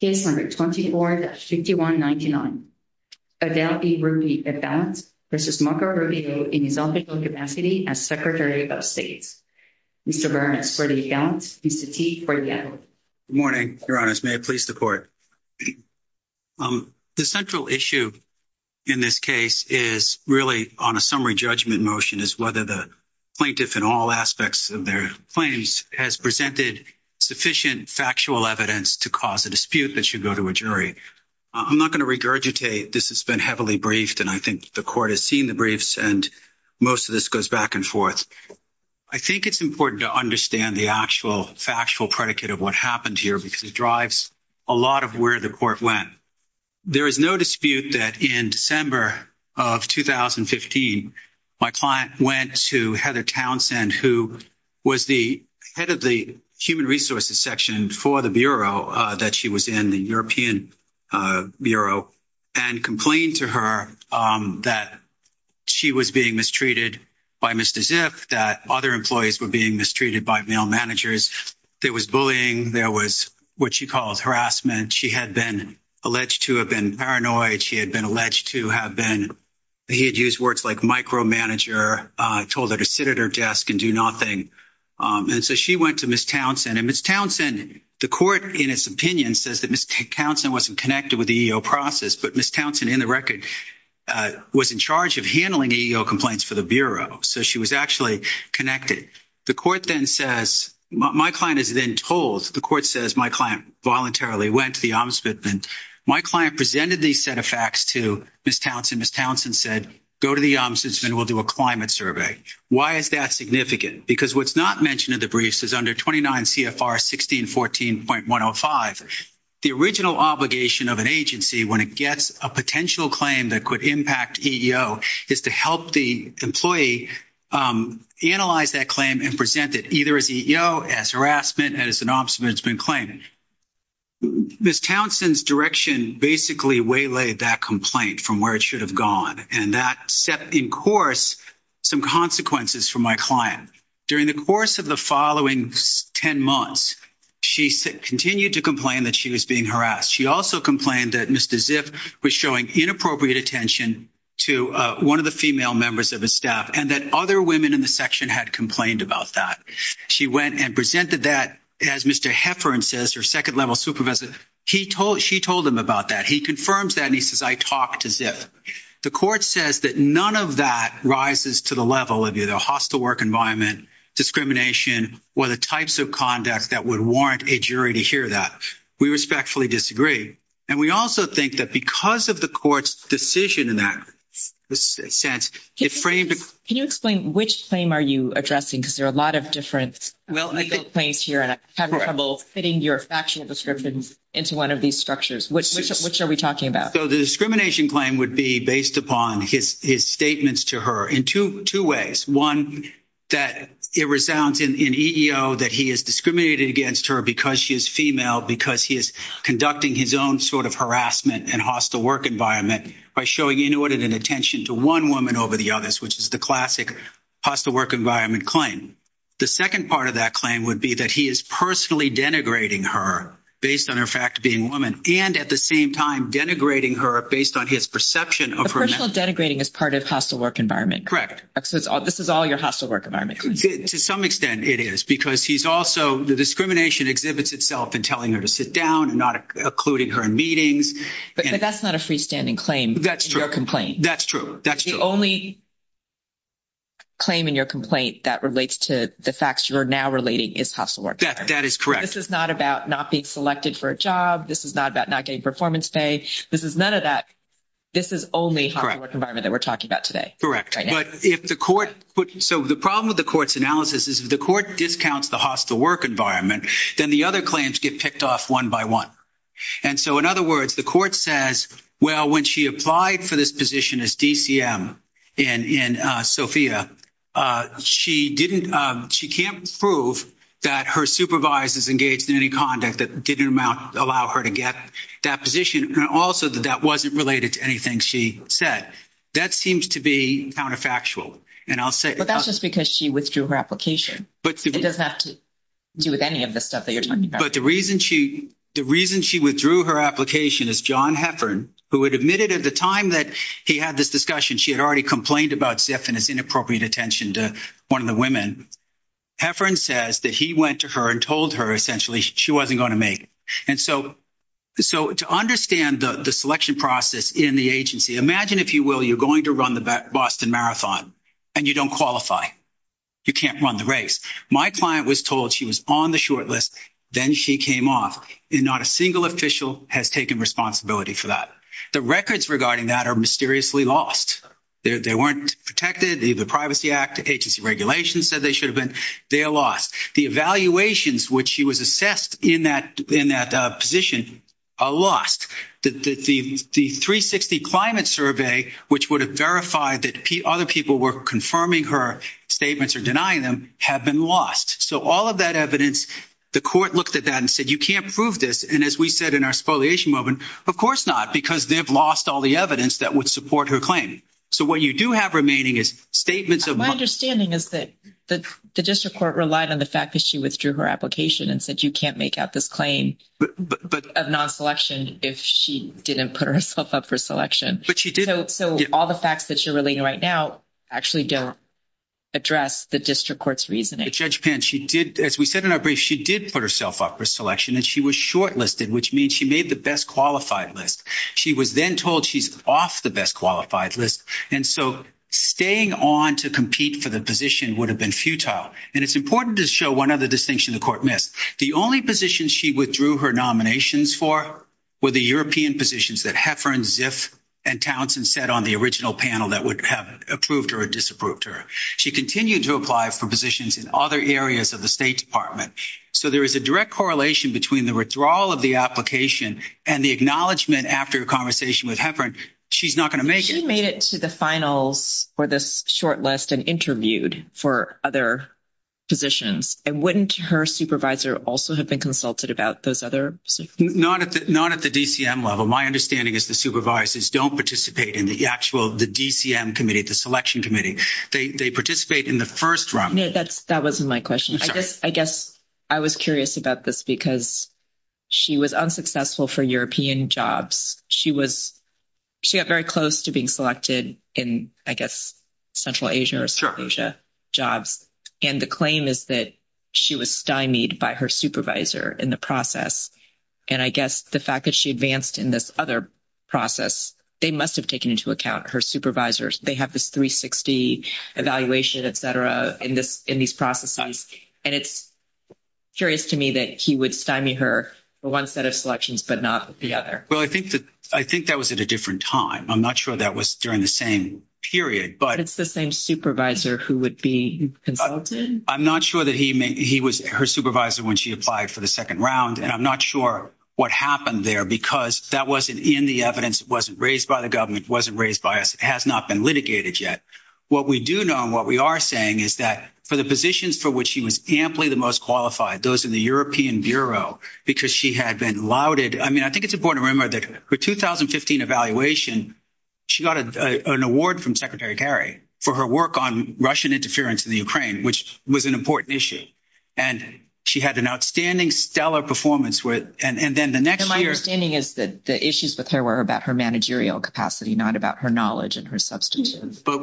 Case number 24-5199. Adele B. Ruppe at balance versus Marco Rubio in his official capacity as Secretary of State. Mr. Burns for the account, Mr. Teague for the evidence. Good morning, Your Honor. May I please the court? The central issue in this case is really on a summary judgment motion is whether the plaintiff in all aspects of their claims has presented sufficient factual evidence to cause a dispute that should go to a jury. I'm not going to regurgitate. This has been heavily briefed and I think the court has seen the briefs and most of this goes back and forth. I think it's important to understand the actual factual predicate of what happened here because it drives a lot of where the court went. There is no dispute that in December of 2015, my client went to Heather Townsend, who was the head of the human resources section for the Bureau that she was in, the European Bureau, and complained to her that she was being mistreated by Mr. Ziff, that other employees were being mistreated by male managers. There was bullying. There was what she calls harassment. She had been alleged to have been paranoid. She had been alleged to have been, he had used words like micromanager, told her to sit at her desk and do nothing. And so she went to Ms. Townsend and Ms. Townsend, the court, in its opinion, says that Ms. Townsend wasn't connected with the EEO process, but Ms. Townsend, in the record, was in charge of handling EEO complaints for the Bureau. So she was actually connected. The court then says, my client is then told, the court says my client voluntarily went to the Ombudsman. My client presented these set of facts to Ms. Townsend. Ms. Townsend said, go to the Ombudsman. We'll do a climate survey. Why is that significant? Because what's not mentioned in the briefs is under 29 CFR 1614.105, the original obligation of an agency when it gets a potential claim that could impact EEO is to help the employee analyze that claim and present it either as EEO, as harassment, and as an Ombudsman claim. Ms. Townsend's direction basically waylaid that complaint from where it should have gone, and that set in course some consequences for my client. During the course of the following 10 months, she continued to complain that she was being harassed. She also complained that Mr. Ziff was showing inappropriate attention to one of the female members of his staff, and that other women in the section had complained about that. She went and presented that, as Mr. Heffern says, her second level supervisor, she told him about that. He confirms that, and he says, I talked to Ziff. The court says that none of that rises to the level of either hostile work environment, discrimination, or the types of conduct that would warrant a jury to hear that. We respectfully disagree. And we also think that because of the court's decision in that sense, it framed – Can you explain which claim are you addressing? Because there are a lot of different legal claims here, and I'm having trouble fitting your factual descriptions into one of these structures. Which are we talking about? So the discrimination claim would be based upon his statements to her in two ways. One, that it resounds in EEO that he is discriminated against her because she is female, because he is conducting his own sort of harassment and hostile work environment by showing inordinate attention to one woman over the others, which is the classic hostile work environment claim. The second part of that claim would be that he is personally denigrating her based on her fact being a woman, and at the same time denigrating her based on his perception of her – Personal denigrating is part of hostile work environment. Correct. This is all your hostile work environment. To some extent, it is, because he's also – the discrimination exhibits itself in telling her to sit down and not including her in meetings. But that's not a freestanding claim. That's true. Your complaint. That's true. The only claim in your complaint that relates to the facts you are now relating is hostile work environment. That is correct. This is not about not being selected for a job. This is not about not getting performance pay. This is none of that. This is only hostile work environment that we're talking about today. But if the court – so the problem with the court's analysis is if the court discounts the hostile work environment, then the other claims get picked off one by one. And so, in other words, the court says, well, when she applied for this position as DCM in SOFIA, she didn't – she can't prove that her supervisor is engaged in any conduct that didn't allow her to get that position. And also that that wasn't related to anything she said. That seems to be counterfactual. And I'll say – But that's just because she withdrew her application. It doesn't have to do with any of the stuff that you're talking about. But the reason she withdrew her application is John Heffern, who had admitted at the time that he had this discussion, she had already complained about Ziff and his inappropriate attention to one of the women. Heffern says that he went to her and told her, essentially, she wasn't going to make it. And so to understand the selection process in the agency, imagine, if you will, you're going to run the Boston Marathon, and you don't qualify. You can't run the race. My client was told she was on the short list. Then she came off. And not a single official has taken responsibility for that. The records regarding that are mysteriously lost. They weren't protected. The Privacy Act agency regulations said they should have been. They are lost. The evaluations, which she was assessed in that position, are lost. The 360 climate survey, which would have verified that other people were confirming her statements or denying them, have been lost. So all of that evidence, the court looked at that and said, you can't prove this. And as we said in our spoliation moment, of course not, because they've lost all the evidence that would support her claim. So what you do have remaining is statements of — But she did — So all the facts that you're relating right now actually don't address the district court's reasoning. But, Judge Pan, she did — as we said in our brief, she did put herself up for selection, and she was shortlisted, which means she made the best-qualified list. She was then told she's off the best-qualified list. And so staying on to compete for the position would have been futile. And it's important to show one other distinction the court missed. The only positions she withdrew her nominations for were the European positions that Heffern, Ziff, and Townsend said on the original panel that would have approved her or disapproved her. She continued to apply for positions in other areas of the State Department. So there is a direct correlation between the withdrawal of the application and the acknowledgement after a conversation with Heffern, she's not going to make it. She made it to the finals for this shortlist and interviewed for other positions. And wouldn't her supervisor also have been consulted about those other positions? Not at the DCM level. My understanding is the supervisors don't participate in the actual — the DCM committee, the selection committee. They participate in the first round. That wasn't my question. I guess I was curious about this because she was unsuccessful for European jobs. She was — she got very close to being selected in, I guess, Central Asia or South Asia jobs. And the claim is that she was stymied by her supervisor in the process. And I guess the fact that she advanced in this other process, they must have taken into account her supervisors. They have this 360 evaluation, et cetera, in these processes. And it's curious to me that he would stymie her for one set of selections but not the other. Well, I think that was at a different time. I'm not sure that was during the same period. But it's the same supervisor who would be consulted? I'm not sure that he was her supervisor when she applied for the second round. And I'm not sure what happened there because that wasn't in the evidence. It wasn't raised by the government. It wasn't raised by us. It has not been litigated yet. What we do know and what we are saying is that for the positions for which she was amply the most qualified, those in the European Bureau, because she had been lauded — I mean, I think it's important to remember that her 2015 evaluation, she got an award from Secretary Kerry for her work on Russian interference in the Ukraine, which was an important issue. And she had an outstanding stellar performance. And then the next year — And my understanding is that the issues with her were about her managerial capacity, not about her knowledge and her substantive work. But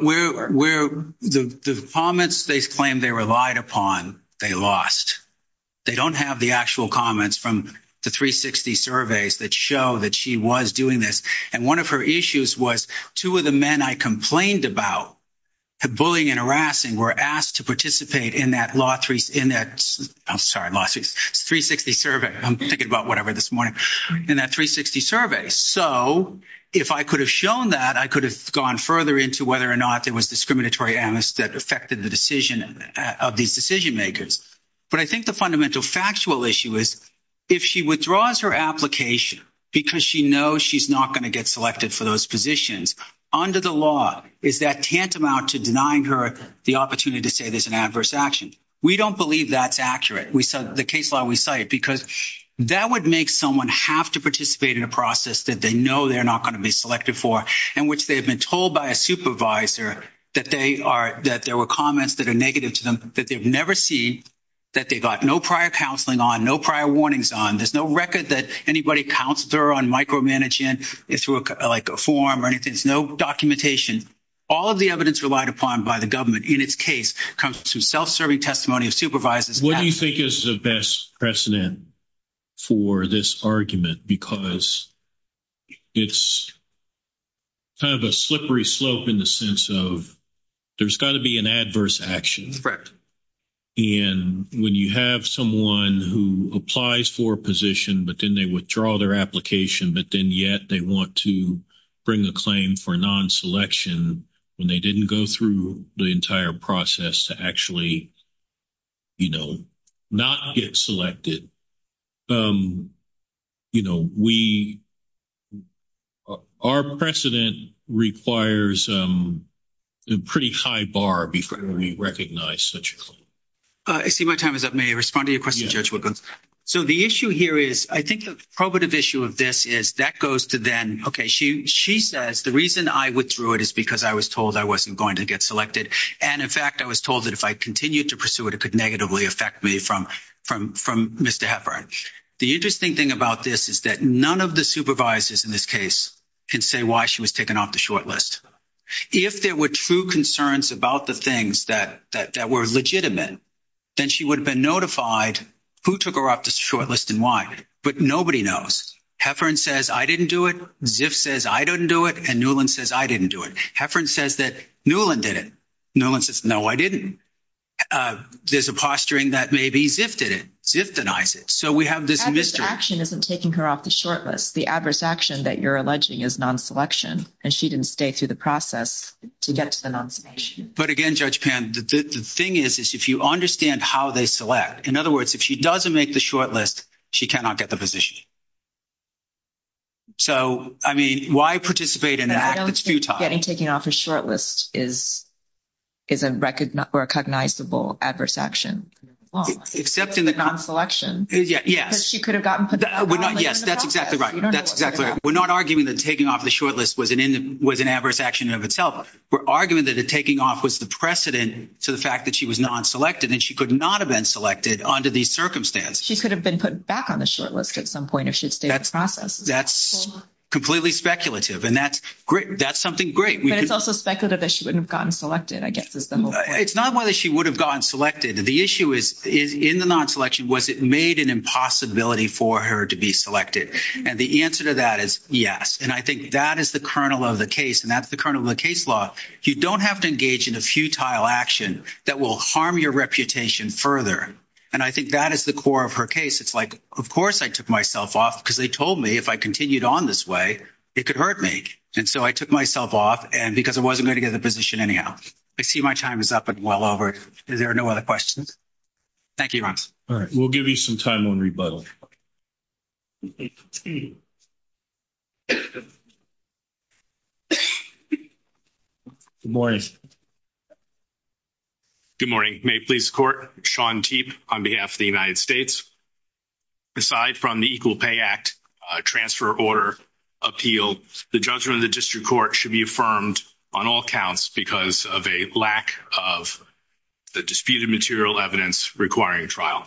the comments they claim they relied upon, they lost. They don't have the actual comments from the 360 surveys that show that she was doing this. And one of her issues was two of the men I complained about, bullying and harassing, were asked to participate in that law — I'm sorry, 360 survey. I'm thinking about whatever this morning. In that 360 survey. So if I could have shown that, I could have gone further into whether or not there was discriminatory amnesty that affected the decision of these decision makers. But I think the fundamental factual issue is, if she withdraws her application because she knows she's not going to get selected for those positions, under the law, is that tantamount to denying her the opportunity to say there's an adverse action? We don't believe that's accurate. The case law we cite, because that would make someone have to participate in a process that they know they're not going to be selected for, in which they have been told by a supervisor that there were comments that are negative to them, that they've never seen, that they got no prior counseling on, no prior warnings on. There's no record that anybody counseled her on micromanaging through a form or anything. There's no documentation. All of the evidence relied upon by the government in its case comes from self-serving testimony of supervisors. What do you think is the best precedent for this argument? Because it's kind of a slippery slope in the sense of there's got to be an adverse action. And when you have someone who applies for a position, but then they withdraw their application, but then yet they want to bring a claim for non-selection when they didn't go through the entire process to actually, you know, not get selected. You know, we, our precedent requires a pretty high bar before we recognize such a claim. I see my time is up. May I respond to your question, Judge Wilkins? So the issue here is, I think the probative issue of this is that goes to then, okay, she says the reason I withdrew it is because I was told I wasn't going to get selected. And, in fact, I was told that if I continued to pursue it, it could negatively affect me from Mr. Heffern. The interesting thing about this is that none of the supervisors in this case can say why she was taken off the short list. If there were true concerns about the things that were legitimate, then she would have been notified who took her off the short list and why. But nobody knows. Heffern says I didn't do it. Ziff says I didn't do it. And Newland says I didn't do it. Heffern says that Newland did it. Newland says, no, I didn't. There's a posturing that maybe Ziff did it. Ziff denies it. So we have this mystery. Adverse action isn't taking her off the short list. The adverse action that you're alleging is non-selection, and she didn't stay through the process to get to the non-selection. But, again, Judge Pan, the thing is, is if you understand how they select, in other words, if she doesn't make the short list, she cannot get the position. So, I mean, why participate in an act that's futile? Getting taken off a short list is a recognizable adverse action. Except in the non-selection. Yes. Because she could have gotten put in the process. Yes, that's exactly right. That's exactly right. We're not arguing that taking off the short list was an adverse action in and of itself. We're arguing that taking off was the precedent to the fact that she was non-selected and she could not have been selected under these circumstances. She could have been put back on the short list at some point if she had stayed in the process. That's completely speculative, and that's great. That's something great. But it's also speculative that she wouldn't have gotten selected, I guess, is the whole point. It's not whether she would have gotten selected. The issue is, in the non-selection, was it made an impossibility for her to be selected? And the answer to that is yes. And I think that is the kernel of the case, and that's the kernel of the case law. You don't have to engage in a futile action that will harm your reputation further. And I think that is the core of her case. It's like, of course I took myself off because they told me if I continued on this way, it could hurt me. And so I took myself off because I wasn't going to get the position anyhow. I see my time is up and well over. Is there no other questions? Thank you, Ron. All right. We'll give you some time on rebuttal. Good morning. Good morning. May it please the Court. Sean Teep on behalf of the United States. Aside from the Equal Pay Act transfer order appeal, the judgment of the district court should be affirmed on all counts because of a lack of the disputed material evidence requiring trial.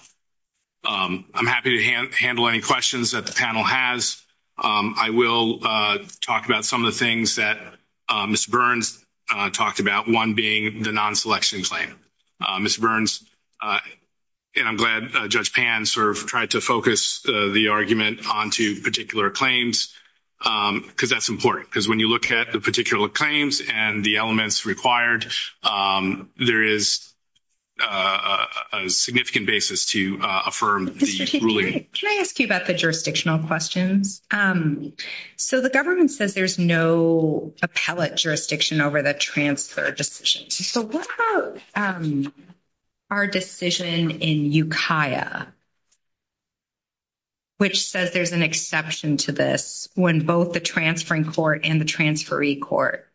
I'm happy to handle any questions that the panel has. I will talk about some of the things that Mr. Burns talked about, one being the non-selection claim. Mr. Burns, and I'm glad Judge Pan sort of tried to focus the argument onto particular claims, because that's important. Because when you look at the particular claims and the elements required, there is a significant basis to affirm the ruling. Mr. Teep, can I ask you about the jurisdictional questions? So the government says there's no appellate jurisdiction over the transfer decisions. So what about our decision in Ukiah, which says there's an exception to this when both the transferring court and the transferee court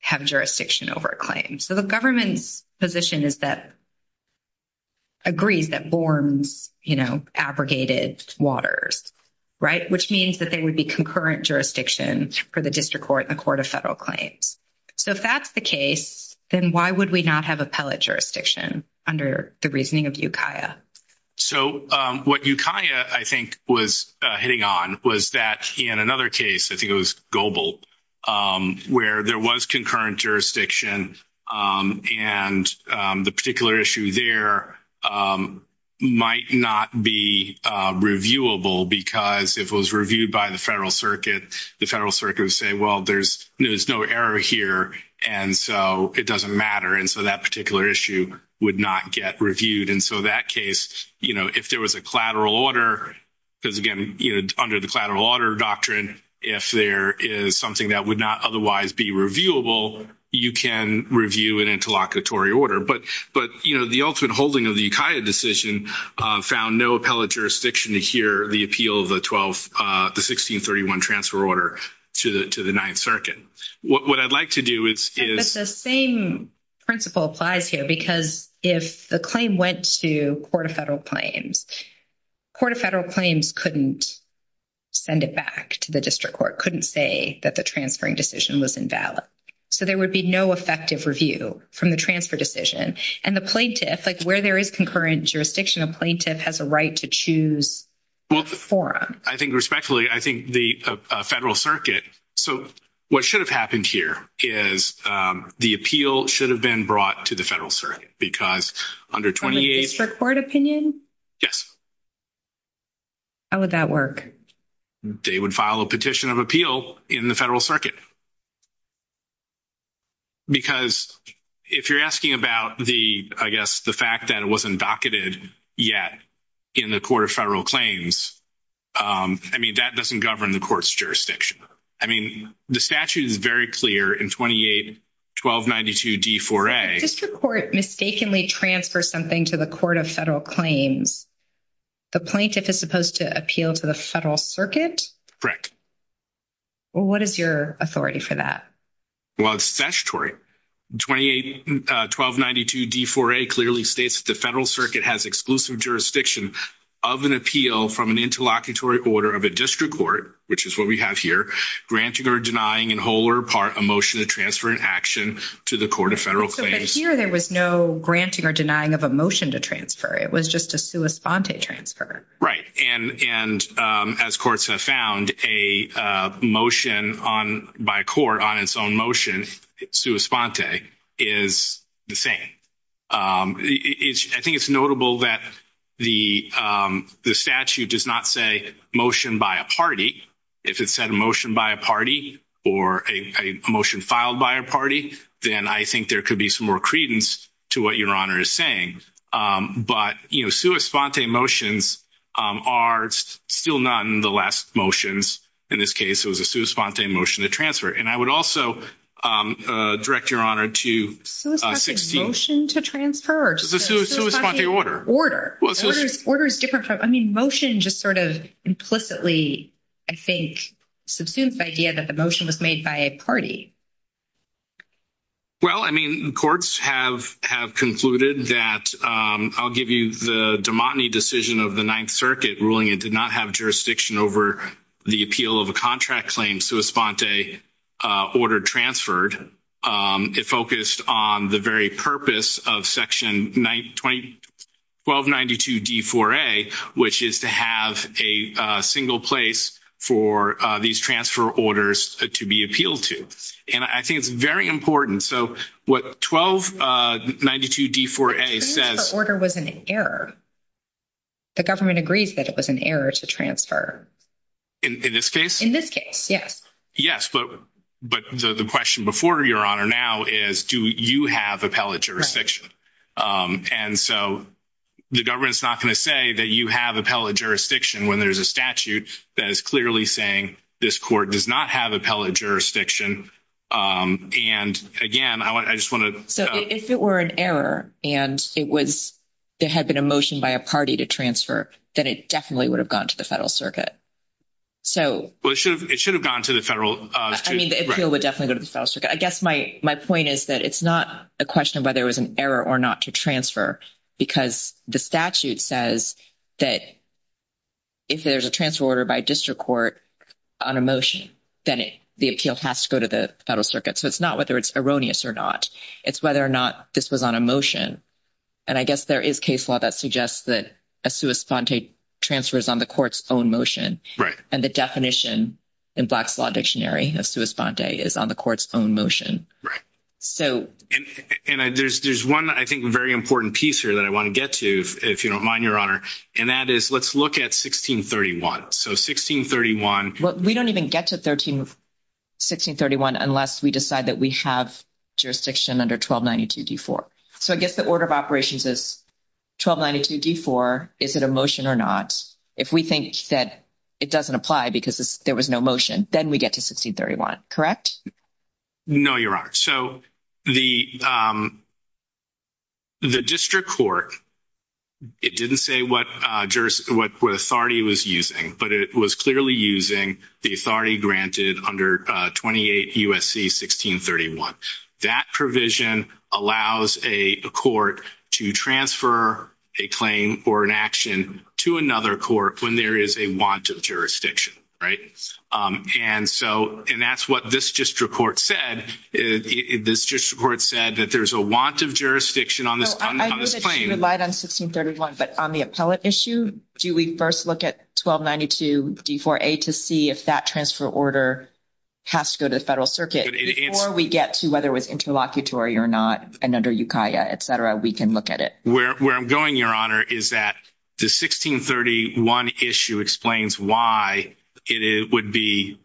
have jurisdiction over a claim? So the government's position is that, agrees that Borms, you know, abrogated Waters, right, which means that there would be concurrent jurisdiction for the district court and the court of federal claims. So if that's the case, then why would we not have appellate jurisdiction under the reasoning of Ukiah? So what Ukiah, I think, was hitting on was that in another case, I think it was Goebel, where there was concurrent jurisdiction and the particular issue there might not be reviewable, because if it was reviewed by the federal circuit, the federal circuit would say, well, there's no error here, and so it doesn't matter, and so that particular issue would not get reviewed. And so that case, you know, if there was a collateral order, because, again, you know, under the collateral order doctrine, if there is something that would not otherwise be reviewable, you can review an interlocutory order. But, you know, the ultimate holding of the Ukiah decision found no appellate jurisdiction here, the appeal of the 1631 transfer order to the Ninth Circuit. What I'd like to do is — But the same principle applies here, because if the claim went to court of federal claims, court of federal claims couldn't send it back to the district court, couldn't say that the transferring decision was invalid. So there would be no effective review from the transfer decision. And the plaintiff, like where there is concurrent jurisdiction, a plaintiff has a right to choose a forum. I think respectfully, I think the federal circuit — so what should have happened here is the appeal should have been brought to the federal circuit, because under 28 — From a district court opinion? Yes. How would that work? They would file a petition of appeal in the federal circuit. Because if you're asking about the, I guess, the fact that it wasn't docketed yet in the court of federal claims, I mean, that doesn't govern the court's jurisdiction. I mean, the statute is very clear in 28-1292-D4A. If a district court mistakenly transfers something to the court of federal claims, the plaintiff is supposed to appeal to the federal circuit? Well, what is your authority for that? Well, it's statutory. 28-1292-D4A clearly states that the federal circuit has exclusive jurisdiction of an appeal from an interlocutory order of a district court, which is what we have here, granting or denying in whole or part a motion to transfer an action to the court of federal claims. But here there was no granting or denying of a motion to transfer. It was just a sua sponte transfer. And as courts have found, a motion by a court on its own motion, sua sponte, is the same. I think it's notable that the statute does not say motion by a party. If it said a motion by a party or a motion filed by a party, then I think there could be some more credence to what Your Honor is saying. But sua sponte motions are still not in the last motions. In this case, it was a sua sponte motion to transfer. And I would also direct Your Honor to 16— Sua sponte motion to transfer or just a sua sponte order? Order. Order is different from—I mean, motion just sort of implicitly, I think, subsumes the idea that the motion was made by a party. Well, I mean, courts have concluded that— I'll give you the Dumatne decision of the Ninth Circuit ruling. It did not have jurisdiction over the appeal of a contract claim. Sua sponte order transferred. It focused on the very purpose of Section 1292D4A, which is to have a single place for these transfer orders to be appealed to. And I think it's very important. So what 1292D4A says— The transfer order was an error. The government agrees that it was an error to transfer. In this case? In this case, yes. Yes, but the question before, Your Honor, now is do you have appellate jurisdiction? And so the government's not going to say that you have appellate jurisdiction when there's a statute that is clearly saying this court does not have appellate jurisdiction. And, again, I just want to— So if it were an error and it was— there had been a motion by a party to transfer, then it definitely would have gone to the Federal Circuit. So— Well, it should have gone to the Federal— I mean, the appeal would definitely go to the Federal Circuit. I guess my point is that it's not a question of whether it was an error or not to transfer because the statute says that if there's a transfer order by a district court on a motion, then the appeal has to go to the Federal Circuit. So it's not whether it's erroneous or not. It's whether or not this was on a motion. And I guess there is case law that suggests that a sua sponte transfer is on the court's own motion. Right. And the definition in Black's Law Dictionary of sua sponte is on the court's own motion. Right. And there's one, I think, very important piece here that I want to get to, if you don't mind, Your Honor, and that is let's look at 1631. So 1631— We don't even get to 1631 unless we decide that we have jurisdiction under 1292d-4. So I guess the order of operations is 1292d-4. Is it a motion or not? If we think that it doesn't apply because there was no motion, then we get to 1631, correct? No, Your Honor. So the district court, it didn't say what authority it was using, but it was clearly using the authority granted under 28 U.S.C. 1631. That provision allows a court to transfer a claim or an action to another court when there is a want of jurisdiction. Right. And that's what this district court said. This district court said that there's a want of jurisdiction on this claim. I know that you relied on 1631, but on the appellate issue, do we first look at 1292d-4a to see if that transfer order has to go to the federal circuit? Before we get to whether it was interlocutory or not and under Ukiah, et cetera, we can look at it. Where I'm going, Your Honor, is that the 1631 issue explains why it would be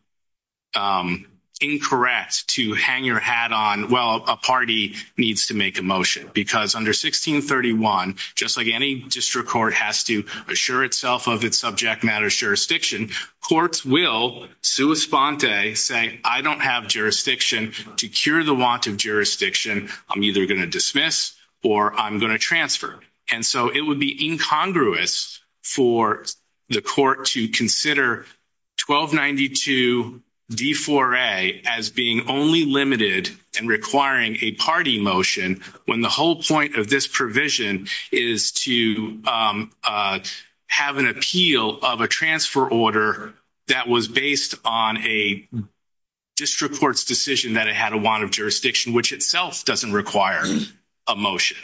incorrect to hang your hat on, well, a party needs to make a motion because under 1631, just like any district court has to assure itself of its subject matter jurisdiction, courts will, sua sponte, say, I don't have jurisdiction. To cure the want of jurisdiction, I'm either going to dismiss or I'm going to transfer. And so it would be incongruous for the court to consider 1292d-4a as being only limited and requiring a party motion when the whole point of this provision is to have an appeal of a transfer order that was based on a district court's decision that it had a want of jurisdiction, which itself doesn't require a motion.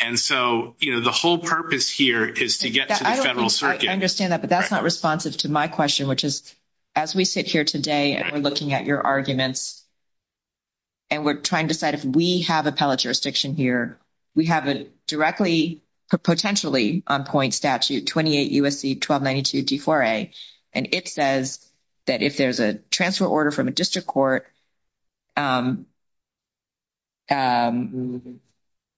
And so, you know, the whole purpose here is to get to the federal circuit. I understand that, but that's not responsive to my question, which is as we sit here today and we're looking at your arguments and we're trying to decide if we have appellate jurisdiction here, we have a directly potentially on point statute, 28 U.S.C. 1292d-4a, and it says that if there's a transfer order from a district court, the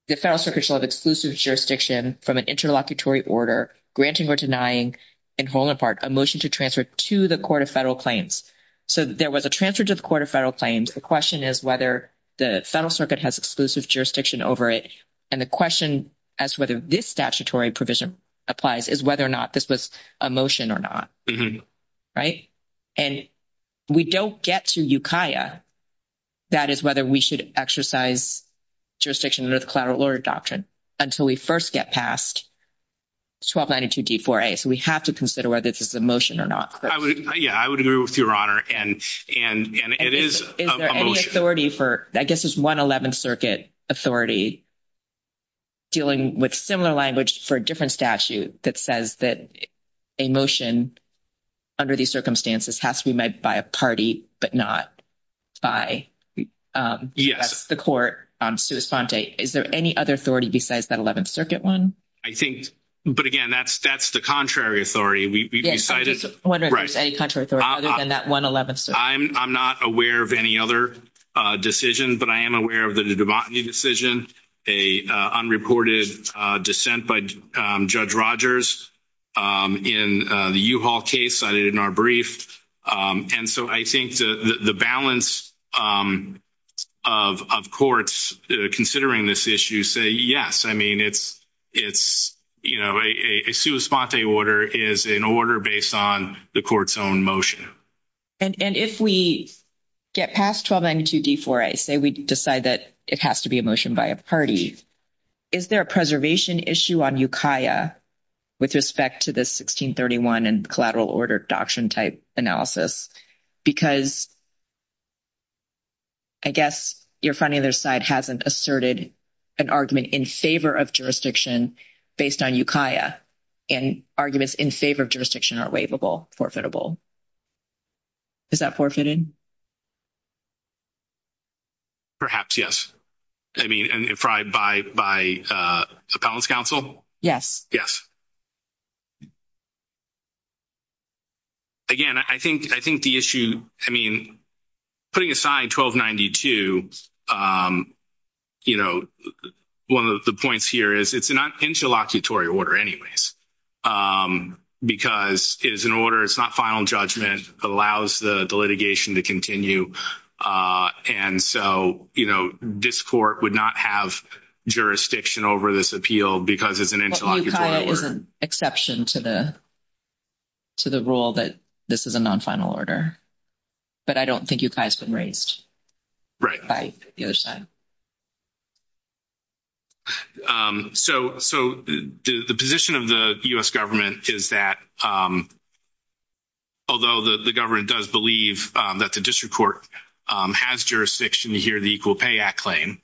federal circuit shall have exclusive jurisdiction from an interlocutory order granting or denying in whole and part a motion to transfer to the court of federal claims. So there was a transfer to the court of federal claims. The question is whether the federal circuit has exclusive jurisdiction over it, and the question as to whether this statutory provision applies is whether or not this was a motion or not. Right? And we don't get to Ukiah. That is whether we should exercise jurisdiction under the collateral order doctrine until we first get past 1292d-4a. So we have to consider whether this is a motion or not. Yeah, I would agree with Your Honor, and it is a motion. Is there any authority for, I guess it's one 11th Circuit authority dealing with similar language for a different statute that says that a motion under these circumstances has to be made by a party, but not by the court on sua sponte. Is there any other authority besides that 11th Circuit one? I think, but again, that's the contrary authority. Yes, I'm just wondering if there's any contrary authority other than that one 11th Circuit. I'm not aware of any other decision, but I am aware of the Dubotney decision, an unreported dissent by Judge Rogers in the U-Haul case cited in our brief. And so I think the balance of courts considering this issue say yes, I mean, it's, you know, a sua sponte order is an order based on the court's own motion. And if we get past 1292d-4a, say we decide that it has to be a motion by a party, is there a preservation issue on Ukiah with respect to the 1631 and collateral order doctrine type analysis? Because I guess your front either side hasn't asserted an argument in favor of jurisdiction based on Ukiah and arguments in favor of jurisdiction are waivable, forfeitable. Is that forfeited? Perhaps, yes. I mean, by appellant's counsel? Yes. Yes. Again, I think the issue, I mean, putting aside 1292, you know, one of the points here is, it's an interlocutory order anyways because it is an order, it's not final judgment, allows the litigation to continue. And so, you know, this court would not have jurisdiction over this appeal because it's an interlocutory order. So Ukiah is an exception to the rule that this is a non-final order. But I don't think Ukiah has been raised. Right. By the other side. So the position of the U.S. government is that although the government does believe that the district court has jurisdiction to hear the Equal Pay Act claim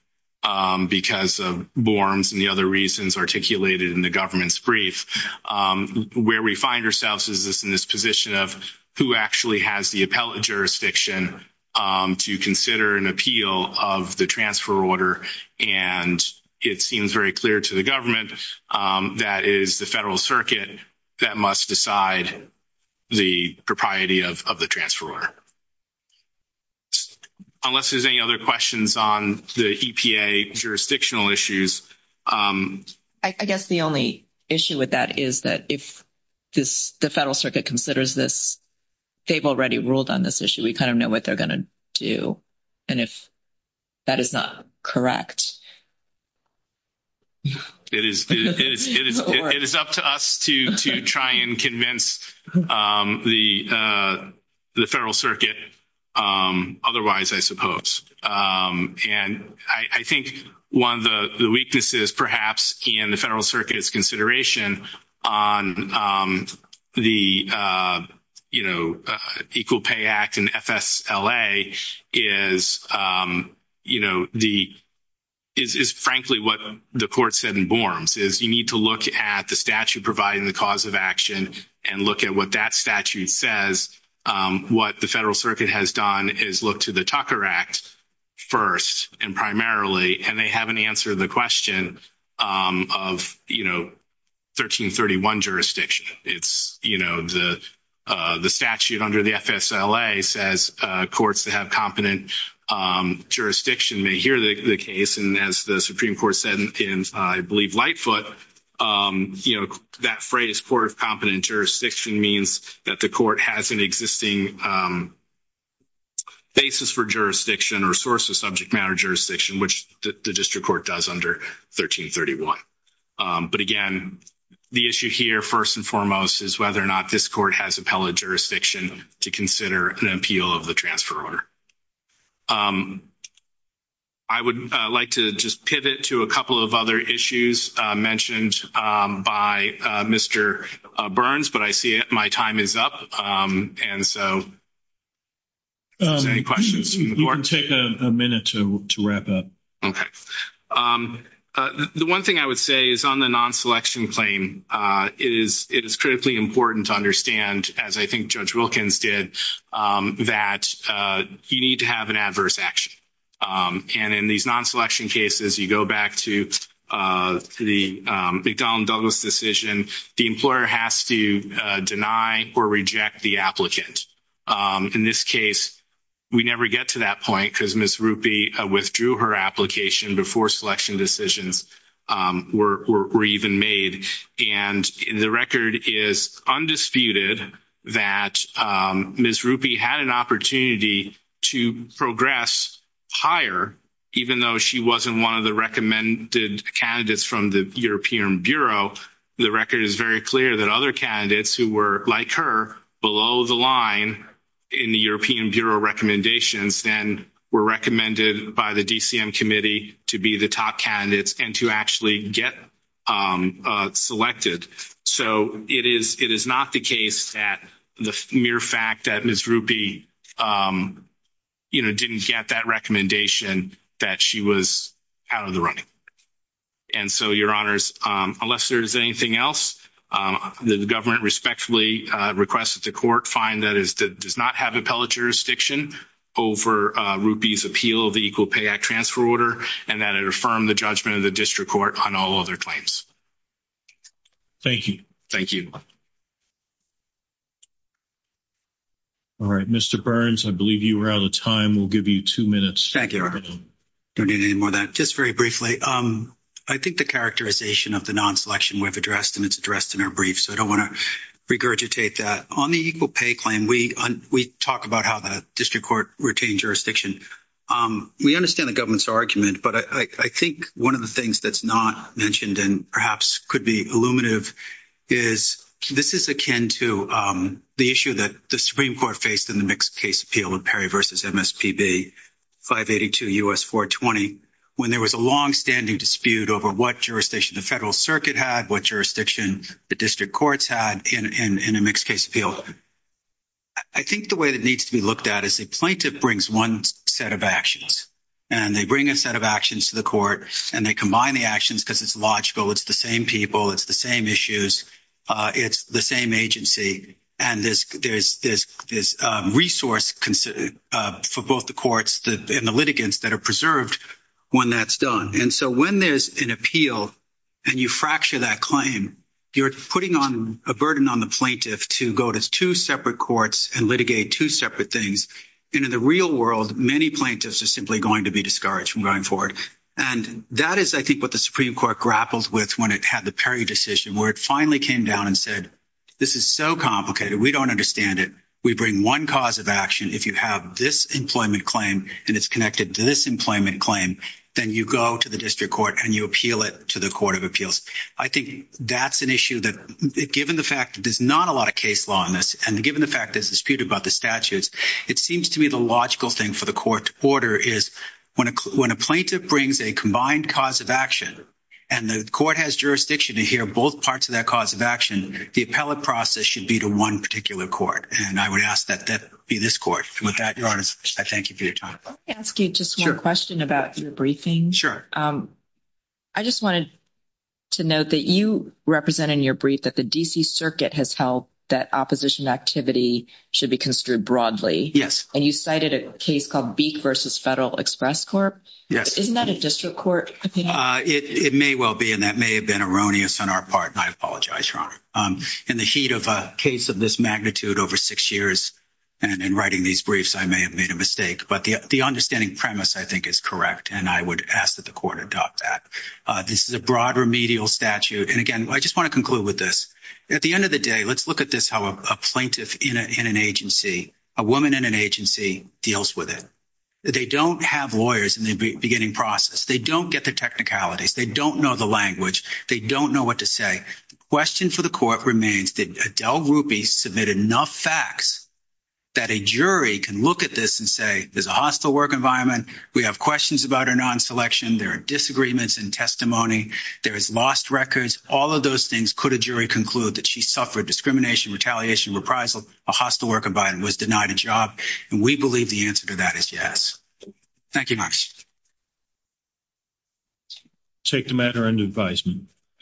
because of Borms and the other reasons articulated in the government's brief, where we find ourselves is in this position of who actually has the appellate jurisdiction to consider an appeal of the transfer order. And it seems very clear to the government that it is the federal circuit that must decide the propriety of the transfer order. Unless there's any other questions on the EPA jurisdictional issues. I guess the only issue with that is that if the federal circuit considers this, they've already ruled on this issue. We kind of know what they're going to do. And if that is not correct. It is up to us to try and convince the federal circuit otherwise, I suppose. And I think one of the weaknesses perhaps in the federal circuit's consideration on the, you know, is frankly what the court said in Borms is you need to look at the statute providing the cause of action and look at what that statute says. What the federal circuit has done is look to the Tucker Act first and primarily, and they haven't answered the question of, you know, 1331 jurisdiction. It's, you know, the statute under the FSLA says courts that have competent jurisdiction may hear the case and as the Supreme Court said in, I believe, Lightfoot, you know, that phrase court of competent jurisdiction means that the court has an existing basis for jurisdiction or source of subject matter jurisdiction, which the district court does under 1331. But again, the issue here first and foremost is whether or not this court has appellate jurisdiction to consider an appeal of the transfer order. I would like to just pivot to a couple of other issues mentioned by Mr. Burns, but I see my time is up. And so are there any questions from the court? We can take a minute to wrap up. Okay. The one thing I would say is on the non-selection claim, it is critically important to understand, as I think Judge Wilkins did, that you need to have an adverse action. And in these non-selection cases, you go back to the McDonnell and Douglas decision, the employer has to deny or reject the applicant. In this case, we never get to that point because Ms. Rupi withdrew her application before selection decisions were even made. And the record is undisputed that Ms. Rupi had an opportunity to progress higher, even though she wasn't one of the recommended candidates from the European Bureau. The record is very clear that other candidates who were, like her, below the line in the European Bureau recommendations then were recommended by the DCM committee to be the top candidates and to actually get selected. So it is not the case that the mere fact that Ms. Rupi, you know, didn't get that recommendation that she was out of the running. And so, Your Honors, unless there is anything else, the government respectfully requests that the court find that it does not have over Rupi's appeal of the Equal Pay Act Transfer Order and that it affirm the judgment of the district court on all other claims. Thank you. Thank you. All right. Mr. Burns, I believe you are out of time. We'll give you two minutes. Thank you, Your Honor. Don't need any more than that. Just very briefly, I think the characterization of the non-selection we've addressed, and it's addressed in our brief, so I don't want to regurgitate that. On the equal pay claim, we talk about how the district court retained jurisdiction. We understand the government's argument, but I think one of the things that's not mentioned and perhaps could be illuminative is this is akin to the issue that the Supreme Court faced in the mixed case appeal of Perry v. MSPB 582 U.S. 420 when there was a longstanding dispute over what jurisdiction the federal circuit had, what jurisdiction the district courts had in a mixed case appeal. I think the way that needs to be looked at is the plaintiff brings one set of actions, and they bring a set of actions to the court, and they combine the actions because it's logical. It's the same people. It's the same issues. It's the same agency, and there's resource for both the courts and the litigants that are preserved when that's done. And so when there's an appeal and you fracture that claim, you're putting a burden on the plaintiff to go to two separate courts and litigate two separate things. And in the real world, many plaintiffs are simply going to be discouraged from going forward. And that is, I think, what the Supreme Court grappled with when it had the Perry decision, where it finally came down and said, this is so complicated. We don't understand it. We bring one cause of action. If you have this employment claim and it's connected to this employment claim, then you go to the district court and you appeal it to the court of appeals. I think that's an issue that, given the fact that there's not a lot of case law on this and given the fact there's a dispute about the statutes, it seems to me the logical thing for the court to order is when a plaintiff brings a combined cause of action and the court has jurisdiction to hear both parts of that cause of action, the appellate process should be to one particular court. And I would ask that that be this court. With that, Your Honor, I thank you for your time. Let me ask you just one question about your briefing. I just wanted to note that you represent in your brief that the D.C. Circuit has held that opposition activity should be construed broadly. Yes. And you cited a case called Beak v. Federal Express Corp. Yes. Isn't that a district court opinion? It may well be, and that may have been erroneous on our part. And I apologize, Your Honor. In the heat of a case of this magnitude over six years and in writing these briefs, I may have made a mistake. But the understanding premise, I think, is correct, and I would ask that the court adopt that. This is a broad remedial statute. And, again, I just want to conclude with this. At the end of the day, let's look at this, how a plaintiff in an agency, a woman in an agency, deals with it. They don't have lawyers in the beginning process. They don't get the technicalities. They don't know the language. They don't know what to say. The question for the court remains, did Adele Rupi submit enough facts that a jury can look at this and say, there's a hostile work environment, we have questions about her non-selection, there are disagreements in testimony, there is lost records, all of those things. Could a jury conclude that she suffered discrimination, retaliation, reprisal, a hostile work environment, was denied a job? And we believe the answer to that is yes. Thank you much. I take the matter under advisement.